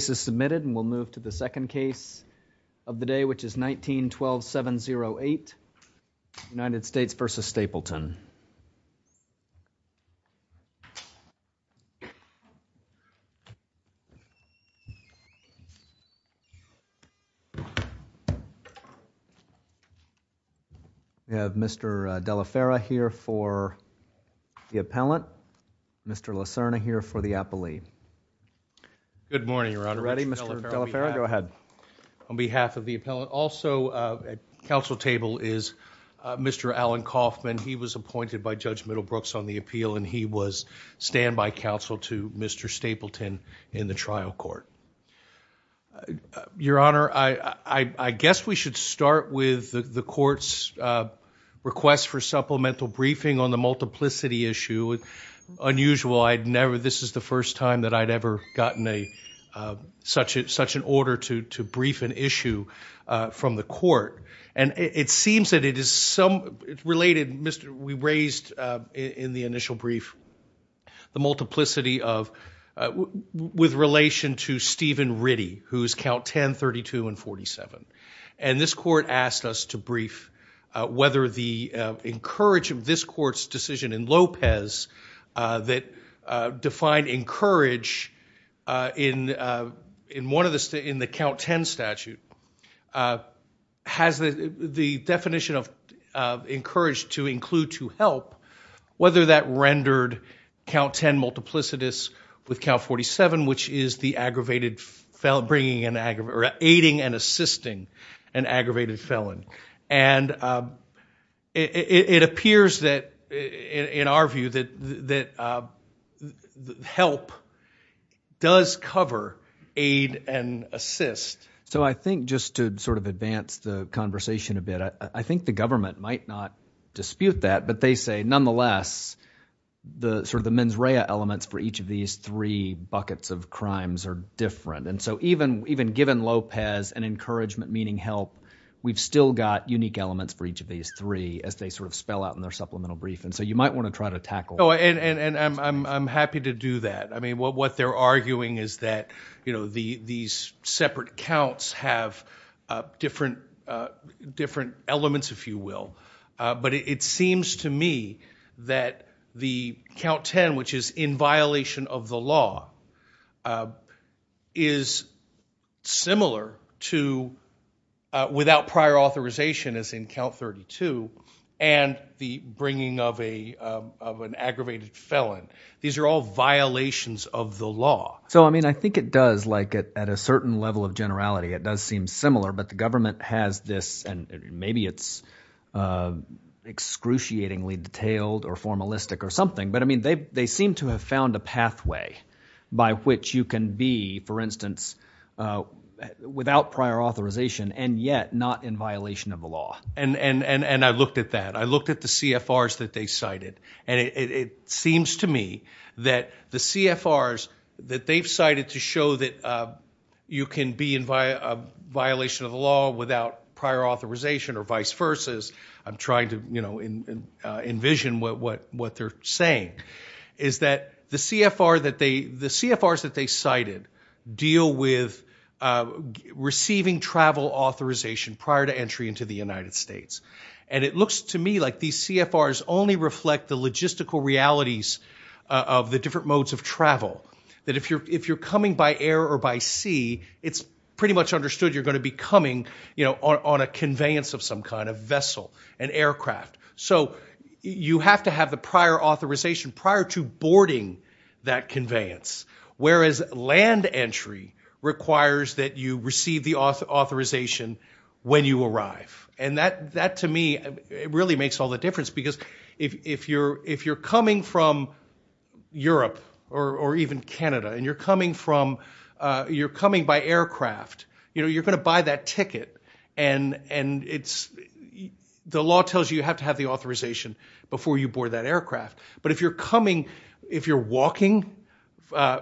The first case is submitted and we'll move to the second case of the day, which is 19-12-708, United States v. Stapleton. We have Mr. De La Fera here for the appellant, Mr. La Serna here for the appellee. Good morning, Your Honor. Ready, Mr. De La Fera? Go ahead. On behalf of the appellant, also at counsel table is Mr. Alan Kaufman. He was appointed by Judge Middlebrooks on the appeal and he was standby counsel to Mr. Stapleton in the trial court. Your Honor, I guess we should start with the court's request for supplemental briefing on the time that I'd ever gotten such an order to brief an issue from the court, and it seems that it is related. We raised in the initial brief the multiplicity with relation to Stephen Ritty, who is count 10, 32, and 47, and this court asked us to brief whether the encourage of this court's decision in Lopez that defined encourage in the count 10 statute has the definition of encourage to include to help, whether that rendered count 10 multiplicitous with count 47, which is the aggravated felon, aiding and assisting an aggravated felon. And it appears that, in our view, that help does cover aid and assist. So I think just to sort of advance the conversation a bit, I think the government might not dispute that, but they say nonetheless, the sort of the mens rea elements for each of these three buckets of crimes are so even given Lopez and encouragement meaning help, we've still got unique elements for each of these three as they sort of spell out in their supplemental brief, and so you might want to try to tackle it. And I'm happy to do that. I mean, what they're arguing is that, you know, these separate counts have different elements, if you will, but it seems to me that the count 10, which is in violation of the law, is similar to without prior authorization, as in count 32, and the bringing of a of an aggravated felon. These are all violations of the law. So I mean, I think it does like at a certain level of generality, it does seem similar, but the government has this and maybe it's excruciatingly detailed or formalistic or something. But I mean, they seem to have found a pathway by which you can be, for instance, without prior authorization and yet not in violation of the law. And I looked at that. I looked at the CFRs that they cited, and it seems to me that the CFRs that they've cited to show that you can be in violation of the law without prior authorization or vice versa, I'm trying to, you know, envision what they're saying, is that the CFR that they the CFRs that they cited deal with receiving travel authorization prior to entry into the United States. And it looks to me like these CFRs only reflect the logistical realities of the different modes of travel, that if you're if you're coming by air or by sea, it's pretty much understood you're going to be coming, you know, on a conveyance of some kind of vessel, an aircraft. So you have to have the prior authorization prior to boarding that conveyance, whereas land entry requires that you receive the authorization when you arrive. And that that to me, it really makes all the difference because if you're if you're coming from Europe, or even Canada, and you're coming from, you're coming by aircraft, you know, you're the law tells you have to have the authorization before you board that aircraft. But if you're coming, if you're walking,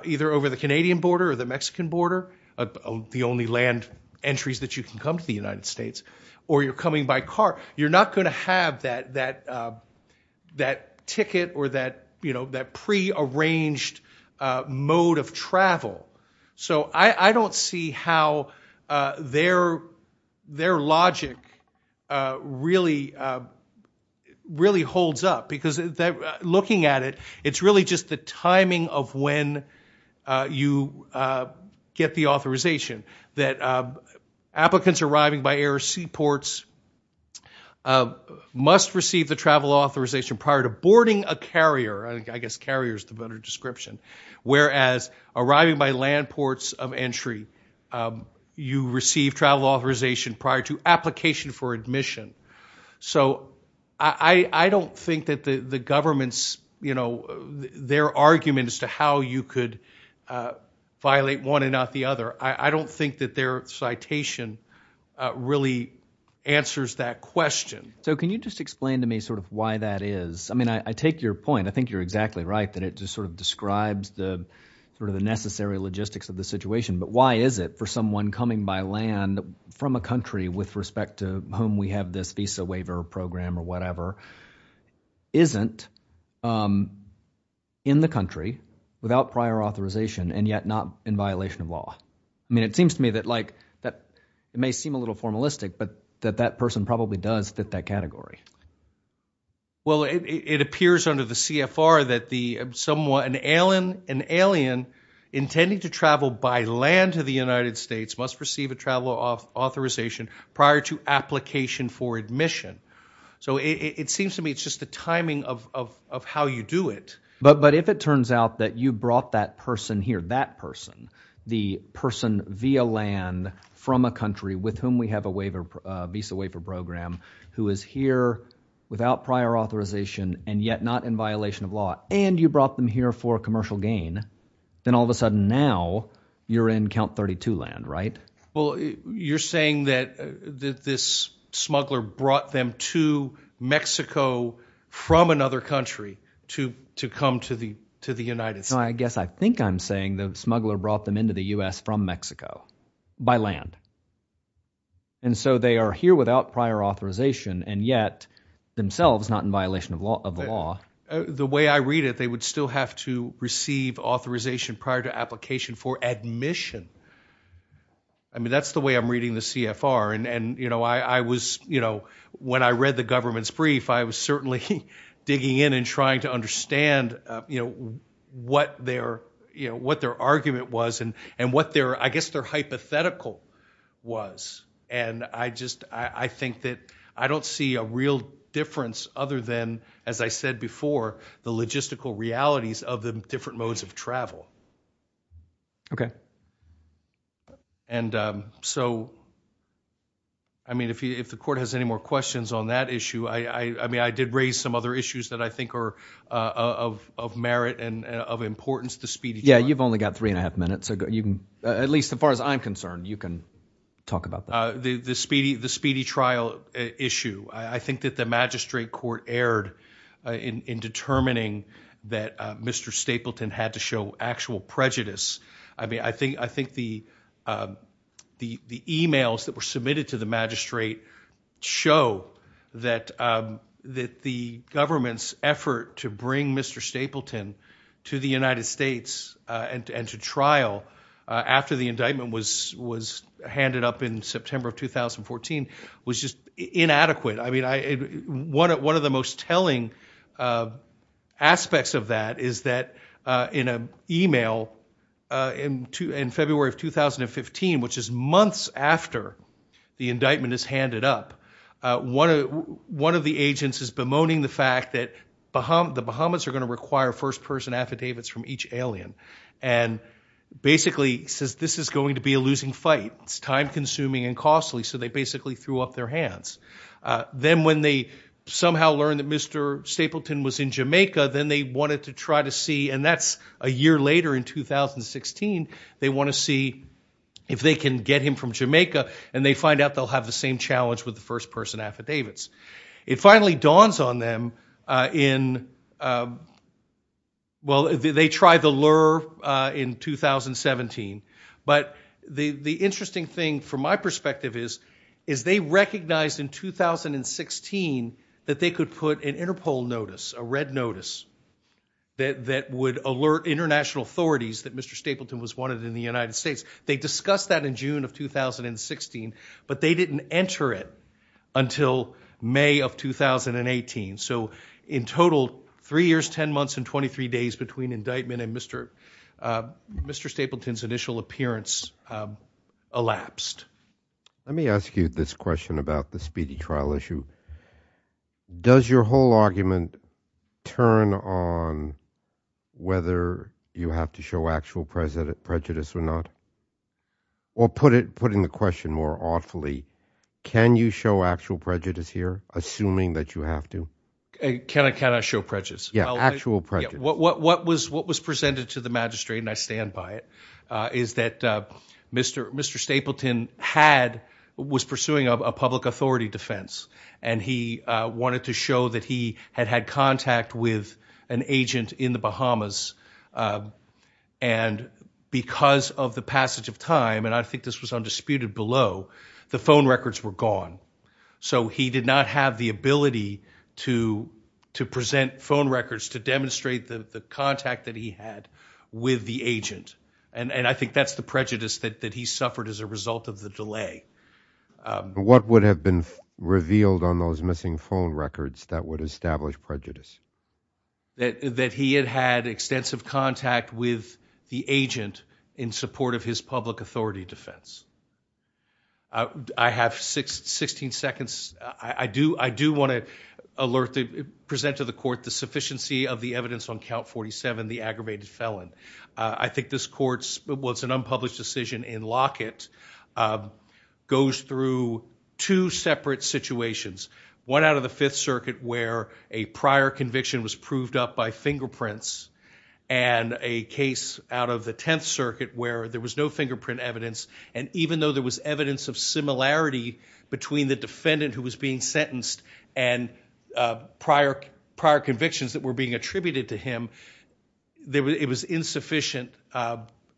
either over the Canadian border or the Mexican border, the only land entries that you can come to the United States, or you're coming by car, you're not going to have that that that ticket or that, you know, that pre arranged mode of travel. So I don't see how their, their logic really, really holds up because looking at it, it's really just the timing of when you get the authorization that applicants arriving by air or sea ports must receive the travel authorization prior to boarding a carrier, I guess carriers, the better description, whereas arriving by land ports of entry, you receive travel authorization prior to application for admission. So I don't think that the government's, you know, their arguments to how you could violate one and not the other. I don't think that their citation really answers that question. So can you just explain to me sort of why that is? I mean, I take your point. I think you're exactly right, that it just sort of describes the sort of the necessary logistics of the situation. But why is it for someone coming by land from a country with respect to whom we have this visa waiver program or whatever, isn't in the country without prior authorization and yet not in violation of law? I mean, it seems to me that like that may seem a little formalistic, but that that person probably does fit that category. Well, it appears under the CFR that the someone, an alien, an alien intending to travel by land to the United States must receive a travel authorization prior to application for admission. So it seems to me it's just the timing of how you do it. But if it turns out that you brought that person here, that person, the person via land from a country with whom we have a waiver visa waiver program who is here without prior authorization and yet not in violation of law, and you brought them here for commercial gain, then all of a sudden now you're in count 32 land, right? Well, you're saying that this smuggler brought them to Mexico from another country to come to the to the United States? I guess I think I'm saying the smuggler brought them into the US from Mexico by land. And so they are here without prior authorization and yet themselves not in violation of law of the law. The way I read it, they would still have to receive authorization prior to application for admission. I mean, that's the way I'm reading the CFR. And, you know, I was, you know, when I read the government's brief, I was certainly digging in and trying to understand, you know, what their, you know, what their argument was and what their I guess their hypothetical was. And I just I think that I don't see a real difference other than, as I said before, the logistical realities of the different modes of travel. Okay. And so I mean, if the court has any more questions on that issue, I mean, I did raise some other issues that I think are of merit and of importance to speed. Yeah, you've only got three and a half minutes. So you can at least as far as I'm concerned, you can talk about the speedy, the speedy trial issue. I think that the magistrate court erred in determining that Mr. Stapleton had to show actual prejudice. I mean, I think I think the the the emails that were submitted to the magistrate show that that the government's effort to bring Mr. Stapleton to the United States and to trial after the indictment was was handed up in September of 2014 was just inadequate. I mean, one of the most telling of aspects of that is that in an email in February of 2015, which is months after the indictment is handed up, one of the agents is bemoaning the fact that the Bahamas are going to require first person affidavits from each alien and basically says this is going to be a losing fight. It's time consuming and costly. So they basically threw up their hands. Then when they somehow learned that Mr. Stapleton was in Jamaica, then they wanted to try to see and that's a year later in 2016. They want to see if they can get him from Jamaica and they find out they'll have the same challenge with the first person affidavits. It finally dawns on them in well, they tried the lure in 2017. But the interesting thing from my perspective is, is they recognized in 2016 that they could put an Interpol notice, a red notice that would alert international authorities that Mr. Stapleton was wanted in the United States. They discussed that in June of 2016, but they didn't enter it until May of 2018. So in total, three years, 10 months and 23 days between indictment and Mr. Stapleton's initial appearance elapsed. Let me ask you this question about the speedy trial issue. Does your whole argument turn on whether you have to show actual prejudice or not? Or put it, put in the question more awfully, can you show actual prejudice here, assuming that you have to? Can I show prejudice? Yeah, actual prejudice. What was presented to the magistrate, I stand by it, is that Mr. Stapleton had, was pursuing a public authority defense. And he wanted to show that he had had contact with an agent in the Bahamas. And because of the passage of time, and I think this was undisputed below, the phone records were gone. So he did not have the ability to present phone records to the agent. And I think that's the prejudice that he suffered as a result of the delay. What would have been revealed on those missing phone records that would establish prejudice? That he had had extensive contact with the agent in support of his public authority defense. I have 16 seconds. I do want to alert the, present to the court the sufficiency of the I think this court's, well it's an unpublished decision in Lockett, goes through two separate situations. One out of the Fifth Circuit where a prior conviction was proved up by fingerprints. And a case out of the Tenth Circuit where there was no fingerprint evidence. And even though there was evidence of similarity between the defendant who was being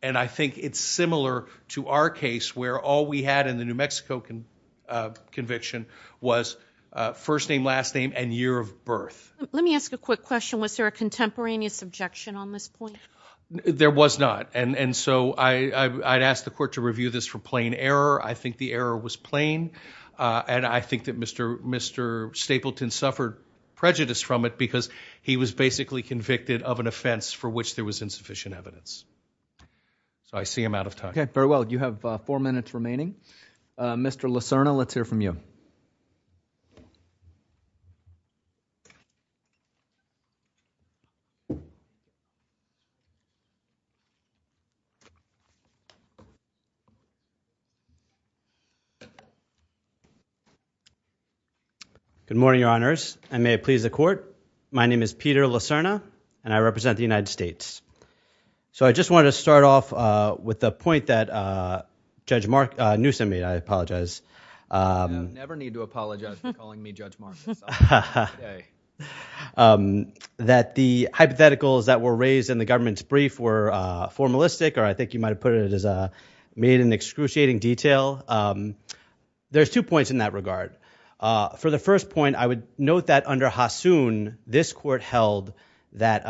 And I think it's similar to our case where all we had in the New Mexico conviction was first name, last name, and year of birth. Let me ask a quick question. Was there a contemporaneous objection on this point? There was not. And so I'd ask the court to review this for plain error. I think the error was plain. And I think that Mr. Stapleton suffered prejudice from it because he was basically convicted of an offense for which there was insufficient evidence. So I see him out of time. Okay, very well. You have four minutes remaining. Mr. Lacerna, let's hear from you. Good morning, your honors. And may it please the court. My name is Peter Lacerna and I represent the United States. So I just wanted to start off with the point that Judge Mark Newsome made. I apologize. You never need to apologize for calling me Judge Mark. That the hypotheticals that were raised in the government's brief were formalistic, or I think you might put it as made in excruciating detail. There's two points in that regard. For the first point, I would note that under Hassoun, this court held that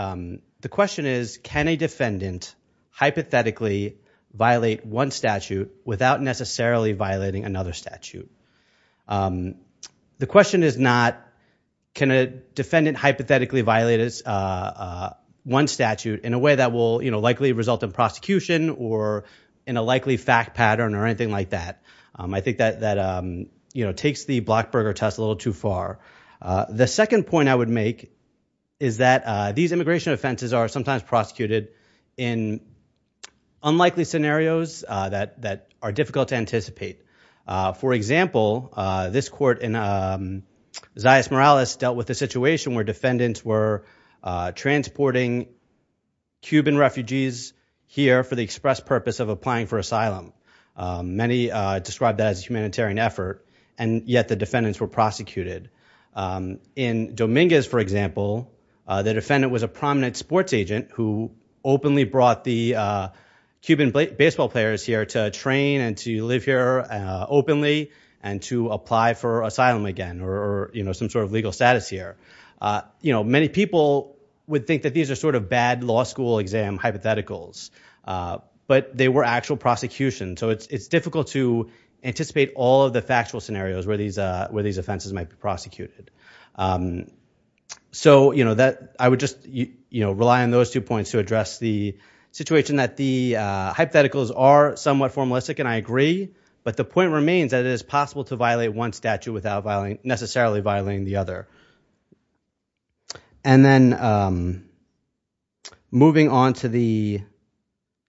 the question is, can a defendant hypothetically violate one statute without necessarily violating another statute? The question is not, can a defendant hypothetically violate one statute in a way that will likely result in prosecution or in a likely fact pattern or anything like that. I think that takes the Blockburger test a little too far. The second point I would make is that these immigration offenses are sometimes prosecuted in unlikely scenarios that are difficult to anticipate. For example, this court in Zayas Morales dealt with the situation where defendants were transporting Cuban refugees here for the express purpose of applying for asylum. Many described that as a humanitarian effort, and yet the defendants were prosecuted. In Dominguez, for example, the defendant was a prominent sports agent who openly brought the Cuban baseball players here to train and to live here openly and to apply for asylum again or some sort of legal status here. Many people would think that these are sort of bad law school exam hypotheticals, but they were actual prosecutions. So it's difficult to anticipate all of the factual scenarios where these offenses might be prosecuted. So I would just rely on those two points to address the situation that the hypotheticals are somewhat formalistic, and I agree. But the point remains that it is possible to violate one statute without necessarily violating the other. And then moving on to the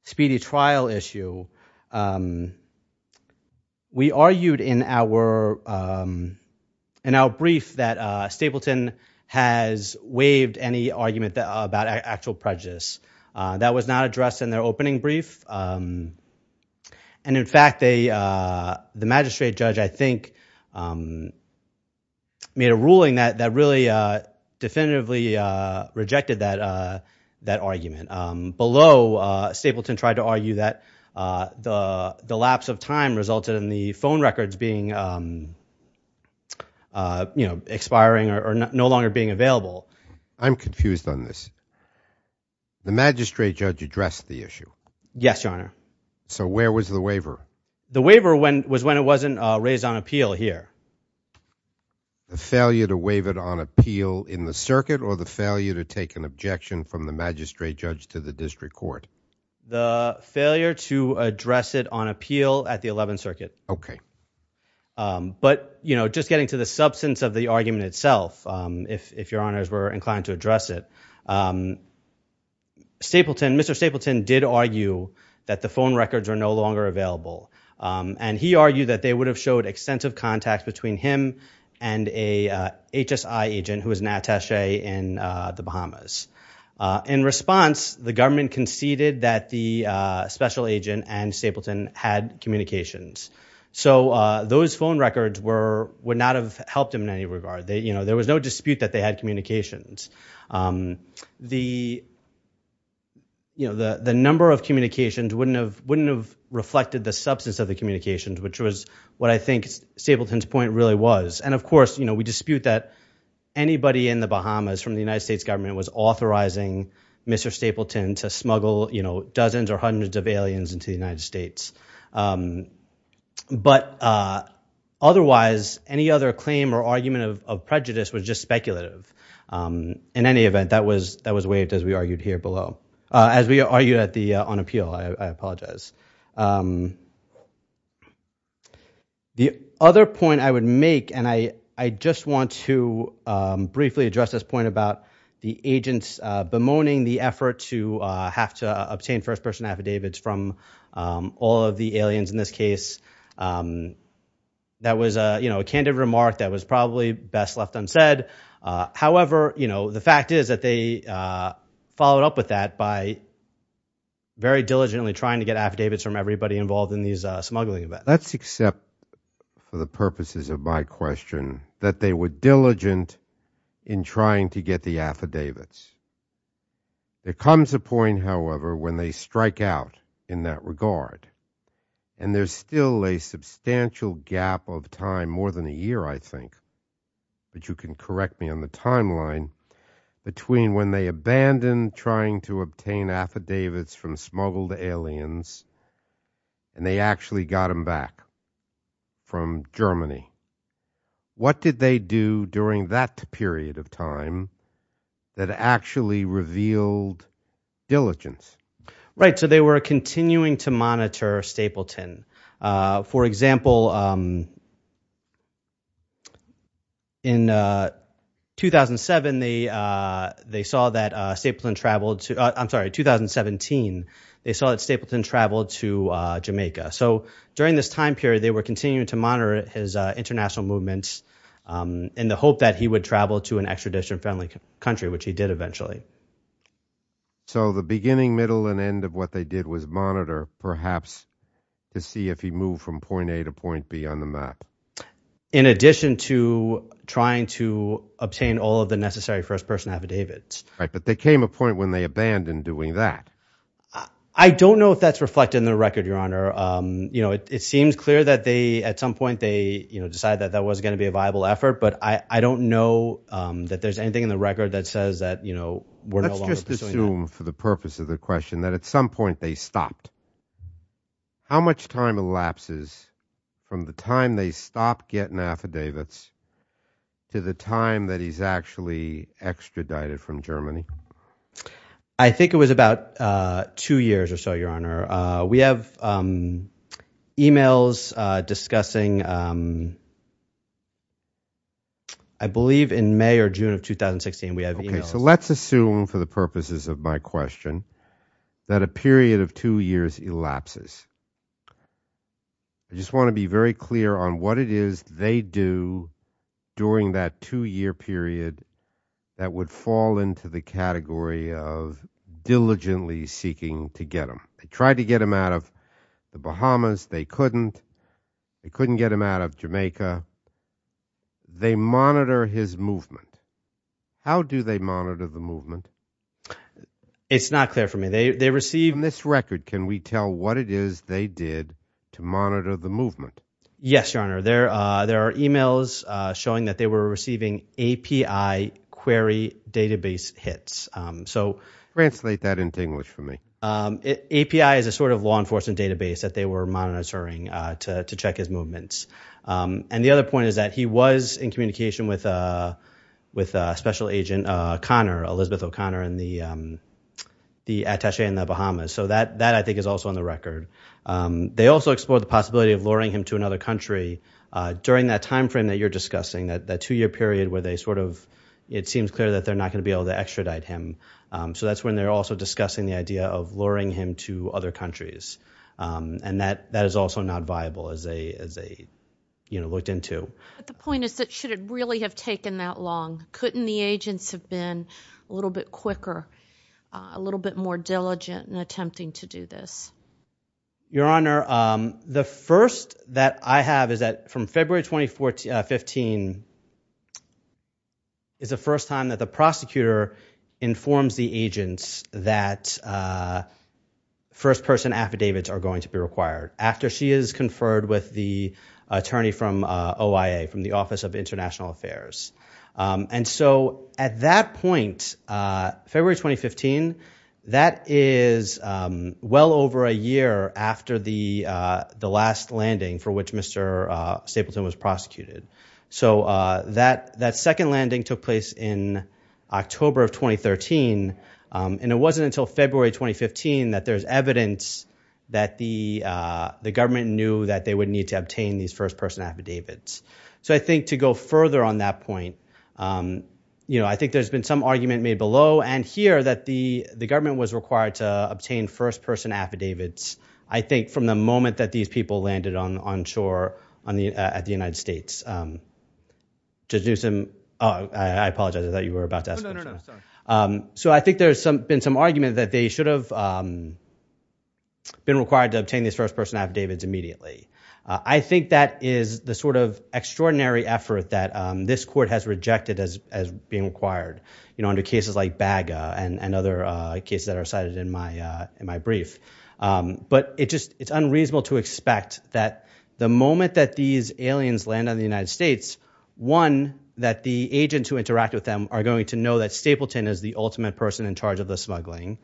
speedy trial issue, we argued in our brief that Stapleton has waived any argument about actual prejudice. That was not addressed in their opening brief. And in fact, the magistrate judge, I think, made a ruling that really definitively rejected that argument. Below, Stapleton tried to argue that the lapse of time resulted in the phone records being expiring or no longer being available. I'm confused on this. The magistrate judge addressed the issue. Yes, Your Honor. So where was the waiver? The waiver was when it wasn't raised on appeal here. The failure to waive it on appeal in the circuit or the failure to take an objection from the magistrate judge to the district court? The failure to address it on appeal at the 11th Circuit. Okay. But just getting to the substance of the argument itself, if Your Honors were inclined to address it, Mr. Stapleton did argue that the phone records are no longer available. And he argued that they would have showed extensive contact between him and a HSI agent who was Natasha in the Bahamas. In response, the government conceded that the special agent and Stapleton had communications. So those phone records would not have helped in any regard. There was no dispute that they had communications. The number of communications wouldn't have reflected the substance of the communications, which was what I think Stapleton's point really was. And of course, we dispute that anybody in the Bahamas from the United States government was authorizing Mr. Stapleton to smuggle dozens or hundreds of aliens into the Bahamas. But otherwise, any other claim or argument of prejudice was just speculative. In any event, that was waived as we argued here below. As we argued on appeal. I apologize. The other point I would make, and I just want to briefly address this point about the agents bemoaning the effort to have to obtain first person affidavits from all of the aliens in this case. That was a, you know, a candid remark that was probably best left unsaid. However, you know, the fact is that they followed up with that by very diligently trying to get affidavits from everybody involved in these smuggling events. Let's accept for the purposes of my question that they were diligent in trying to get the affidavits. There comes a point, however, when they strike out in that regard. And there's still a substantial gap of time, more than a year, I think, that you can correct me on the timeline, between when they abandoned trying to obtain affidavits from smuggled aliens, and they actually got them back from Germany. What did they do during that period of time that actually revealed diligence? Right, so they were continuing to monitor Stapleton. For example, in 2007, they saw that Stapleton traveled to, I'm sorry, 2017, they saw that Stapleton traveled to Jamaica. So during this time period, they were continuing to monitor his international movements in the hope that he would travel to an extradition friendly country, which he did eventually. So the beginning, middle, and end of what they did was monitor, perhaps, to see if he moved from point A to point B on the map. In addition to trying to obtain all of the necessary first person affidavits. Right, but there came a point when they abandoned doing that. I don't know if that's reflected in the record, Your Honor. You know, it seems clear that they, you know, decided that that was going to be a viable effort, but I don't know that there's anything in the record that says that, you know, we're no longer pursuing that. Let's just assume for the purpose of the question that at some point they stopped. How much time elapses from the time they stopped getting affidavits to the time that he's actually extradited from Germany? I think it was about two years or so, Your Honor. We have emails discussing, I believe in May or June of 2016, we have emails. So let's assume for the purposes of my question that a period of two years elapses. I just want to be very clear on what it is they do during that two-year period that would fall into the category of diligently seeking to get him. They tried to get him out of the Bahamas. They couldn't. They couldn't get him out of Jamaica. They monitor his movement. How do they monitor the movement? It's not clear for me. They receive... On this record, can we tell what it is they did to monitor the movement? Yes, Your Honor. There are emails showing that they were receiving API query database hits. Translate that in English for me. API is a sort of law enforcement database that they were monitoring to check his movements. The other point is that he was in communication with a special agent, Elizabeth O'Connor, the attache in the Bahamas. That, I think, is also on the record. They also explored the possibility of luring him to another country during that time frame that you're discussing, that two-year period where they sort of... It seems clear that they're not going to be able to extradite him. So that's when they're also discussing the idea of luring him to other countries. And that is also not viable as they looked into. But the point is that should it really have taken that long? Couldn't the agents have been a little bit quicker, a little bit more diligent in attempting to do this? Your Honor, the first that I have is that from February 2015 is the first time that the prosecutor informs the agents that first-person affidavits are going to be required after she is conferred with the attorney from OIA, from the Office of International Affairs, after the last landing for which Mr. Stapleton was prosecuted. So that second landing took place in October of 2013. And it wasn't until February 2015 that there's evidence that the government knew that they would need to obtain these first-person affidavits. So I think to go further on that point, I think there's been some argument made below and here that the government was required to obtain first-person affidavits, I think, from the moment that these people landed on shore at the United States. To do some, oh, I apologize. I thought you were about to ask a question. Oh, no, no, no. Sorry. So I think there's been some argument that they should have been required to obtain these first-person affidavits immediately. I think that is the sort of extraordinary effort that this court has rejected as being required. Under cases like BAGA and other cases that are cited in my brief. But it's unreasonable to expect that the moment that these aliens land on the United States, one, that the agents who interact with them are going to know that Stapleton is the ultimate person in charge of the smuggling.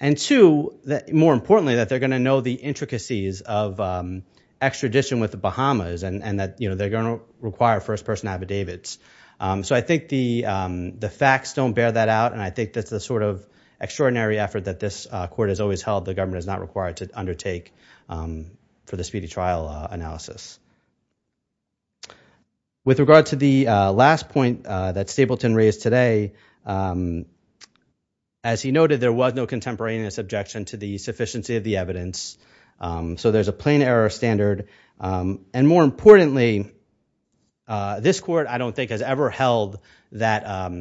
And two, more importantly, that they're going to know the intricacies of extradition with the Bahamas and that they're going to require first-person affidavits. So I think the facts don't bear that out. And I think that's the sort of extraordinary effort that this court has always held the government is not required to undertake for the speedy trial analysis. With regard to the last point that Stapleton raised today, as he noted, there was no contemporaneous objection to the sufficiency of the evidence. So there's a plain error standard. And more importantly, this court, I don't think, has ever held that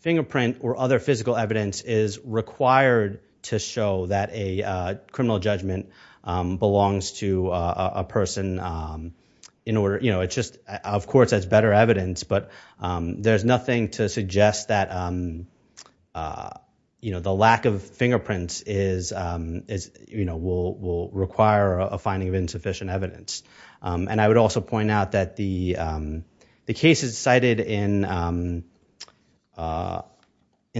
fingerprint or other physical evidence is required to show that a criminal judgment belongs to a person. Of course, that's better evidence. But there's nothing to suggest that the lack of fingerprints will require a finding of insufficient evidence. And I would also point out that the cases cited in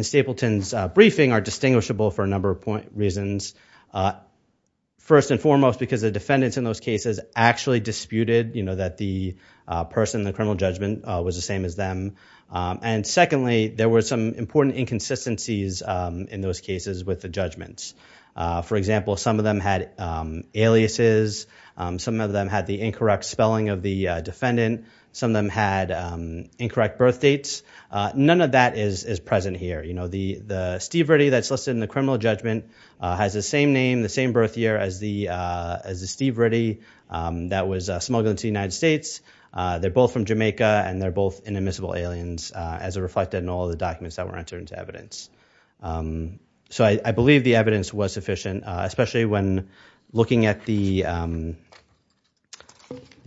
Stapleton's briefing are distinguishable for a number of reasons. First and foremost, because the defendants in those cases actually disputed that a person in the criminal judgment was the same as them. And secondly, there were some important inconsistencies in those cases with the judgments. For example, some of them had aliases. Some of them had the incorrect spelling of the defendant. Some of them had incorrect birthdates. None of that is present here. The Steve Ritty that's listed in the criminal judgment has the same name, same birth year as the Steve Ritty that was smuggled into the United States. They're both from Jamaica, and they're both inadmissible aliens as reflected in all the documents that were entered into evidence. So I believe the evidence was sufficient, especially when looking at the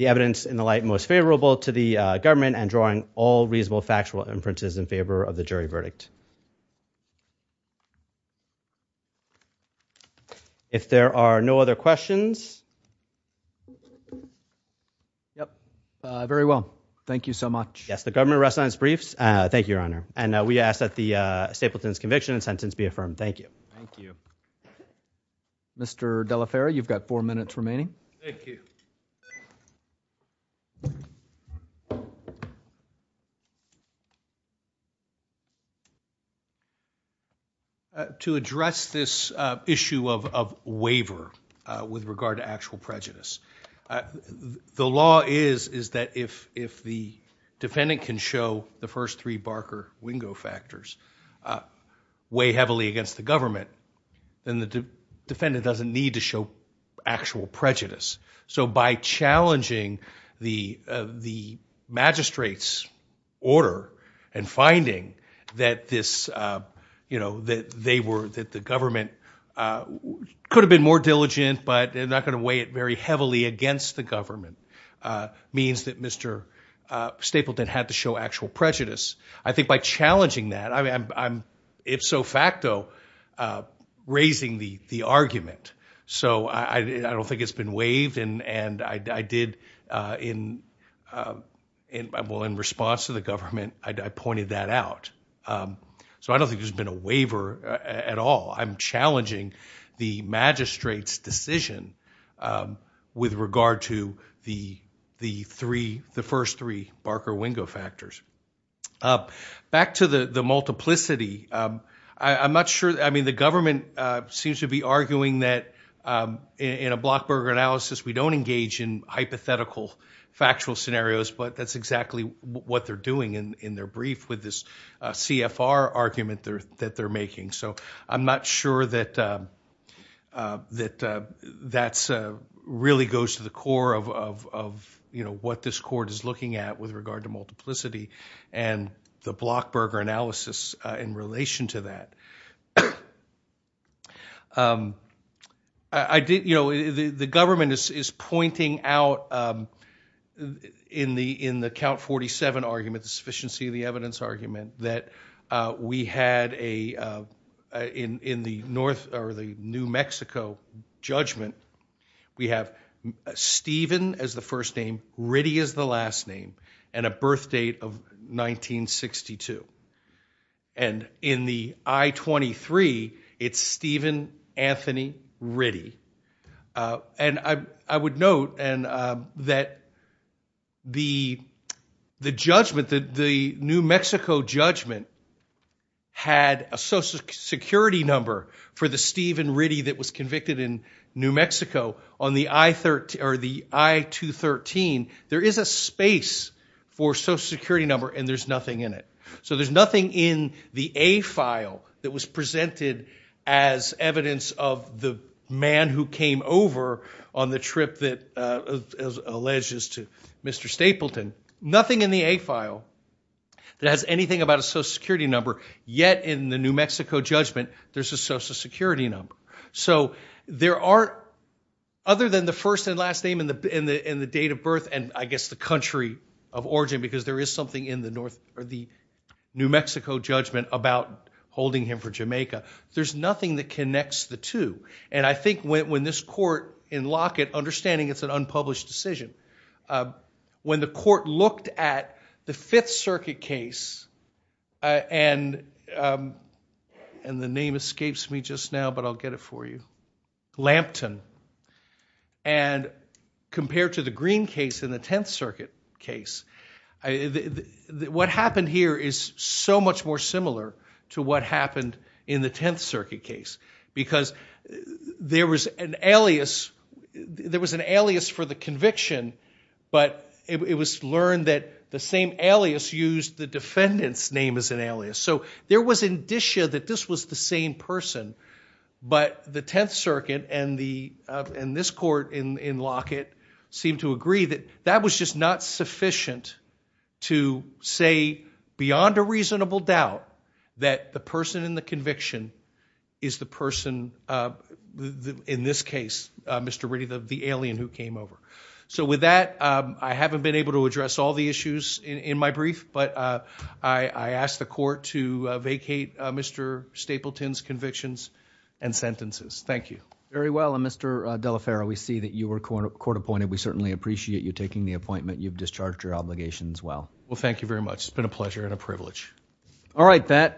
evidence in the light most favorable to the government and drawing all reasonable There are no other questions. Yep. Very well. Thank you so much. Yes. The government rest lines briefs. Thank you, Your Honor. And we ask that the Stapleton's conviction and sentence be affirmed. Thank you. Thank you, Mr. Delaferri. You've got four minutes remaining. Thank you. Thank you. To address this issue of waiver with regard to actual prejudice, the law is that if the defendant can show the first three Barker-Wingo factors weigh heavily against the government, then the defendant doesn't need to show actual prejudice. So by challenging the magistrate's order and finding that the government could have been more diligent, but they're not going to weigh it very heavily against the government, means that Mr. Stapleton had to show actual prejudice. I think by challenging that, I'm, if so facto, raising the argument. So I don't think it's been waived. And I did in response to the government, I pointed that out. So I don't think there's been a waiver at all. I'm challenging the magistrate's decision with regard to the first three Barker-Wingo factors. Back to the multiplicity, I'm not sure. I mean, the government seems to be arguing that in a Blockburger analysis, we don't engage in hypothetical factual scenarios, but that's exactly what they're doing in their brief with this CFR argument that they're making. So I'm not sure that that really goes to the core of what this court is looking at with regard to and the Blockburger analysis in relation to that. The government is pointing out in the count 47 argument, the sufficiency of the evidence argument, that we had in the New Mexico judgment, we have Stephen as the first name, Ritty is the last name, and a birth date of 1962. And in the I-23, it's Stephen Anthony Ritty. And I would note that the judgment, the New Mexico judgment had a social security number for the Stephen Ritty that was convicted in New Mexico on the I-213. There is a space for social security number, and there's nothing in it. So there's nothing in the A file that was presented as evidence of the man who came over on the trip that alleges to Mr. Stapleton. Nothing in the A file that has anything about a social security number, yet in the New Mexico judgment, there's a social security number. So there are, other than the first and last name and the date of birth, and I guess the country of origin, because there is something in the New Mexico judgment about holding him for Jamaica, there's nothing that connects the two. And I think when this court in Lockett, understanding it's an unpublished decision, when the court looked at the Fifth Circuit case, and the name escapes me just now, but I'll get it for you, Lampton, and compared to the Green case in the Tenth Circuit case, what happened here is so much more similar to what happened in the Tenth Circuit case, because there was an alias for the alias used the defendant's name as an alias. So there was indicia that this was the same person, but the Tenth Circuit and this court in Lockett seemed to agree that that was just not sufficient to say beyond a reasonable doubt that the person in the conviction is the person, in this case, Mr. Ritty, the alien who came over. So with that, I haven't been able to address all issues in my brief, but I ask the court to vacate Mr. Stapleton's convictions and sentences. Thank you. Very well, and Mr. Delaferro, we see that you were court appointed. We certainly appreciate you taking the appointment. You've discharged your obligations well. Well, thank you very much. It's been a pleasure and a privilege. All right, that concludes the hearing.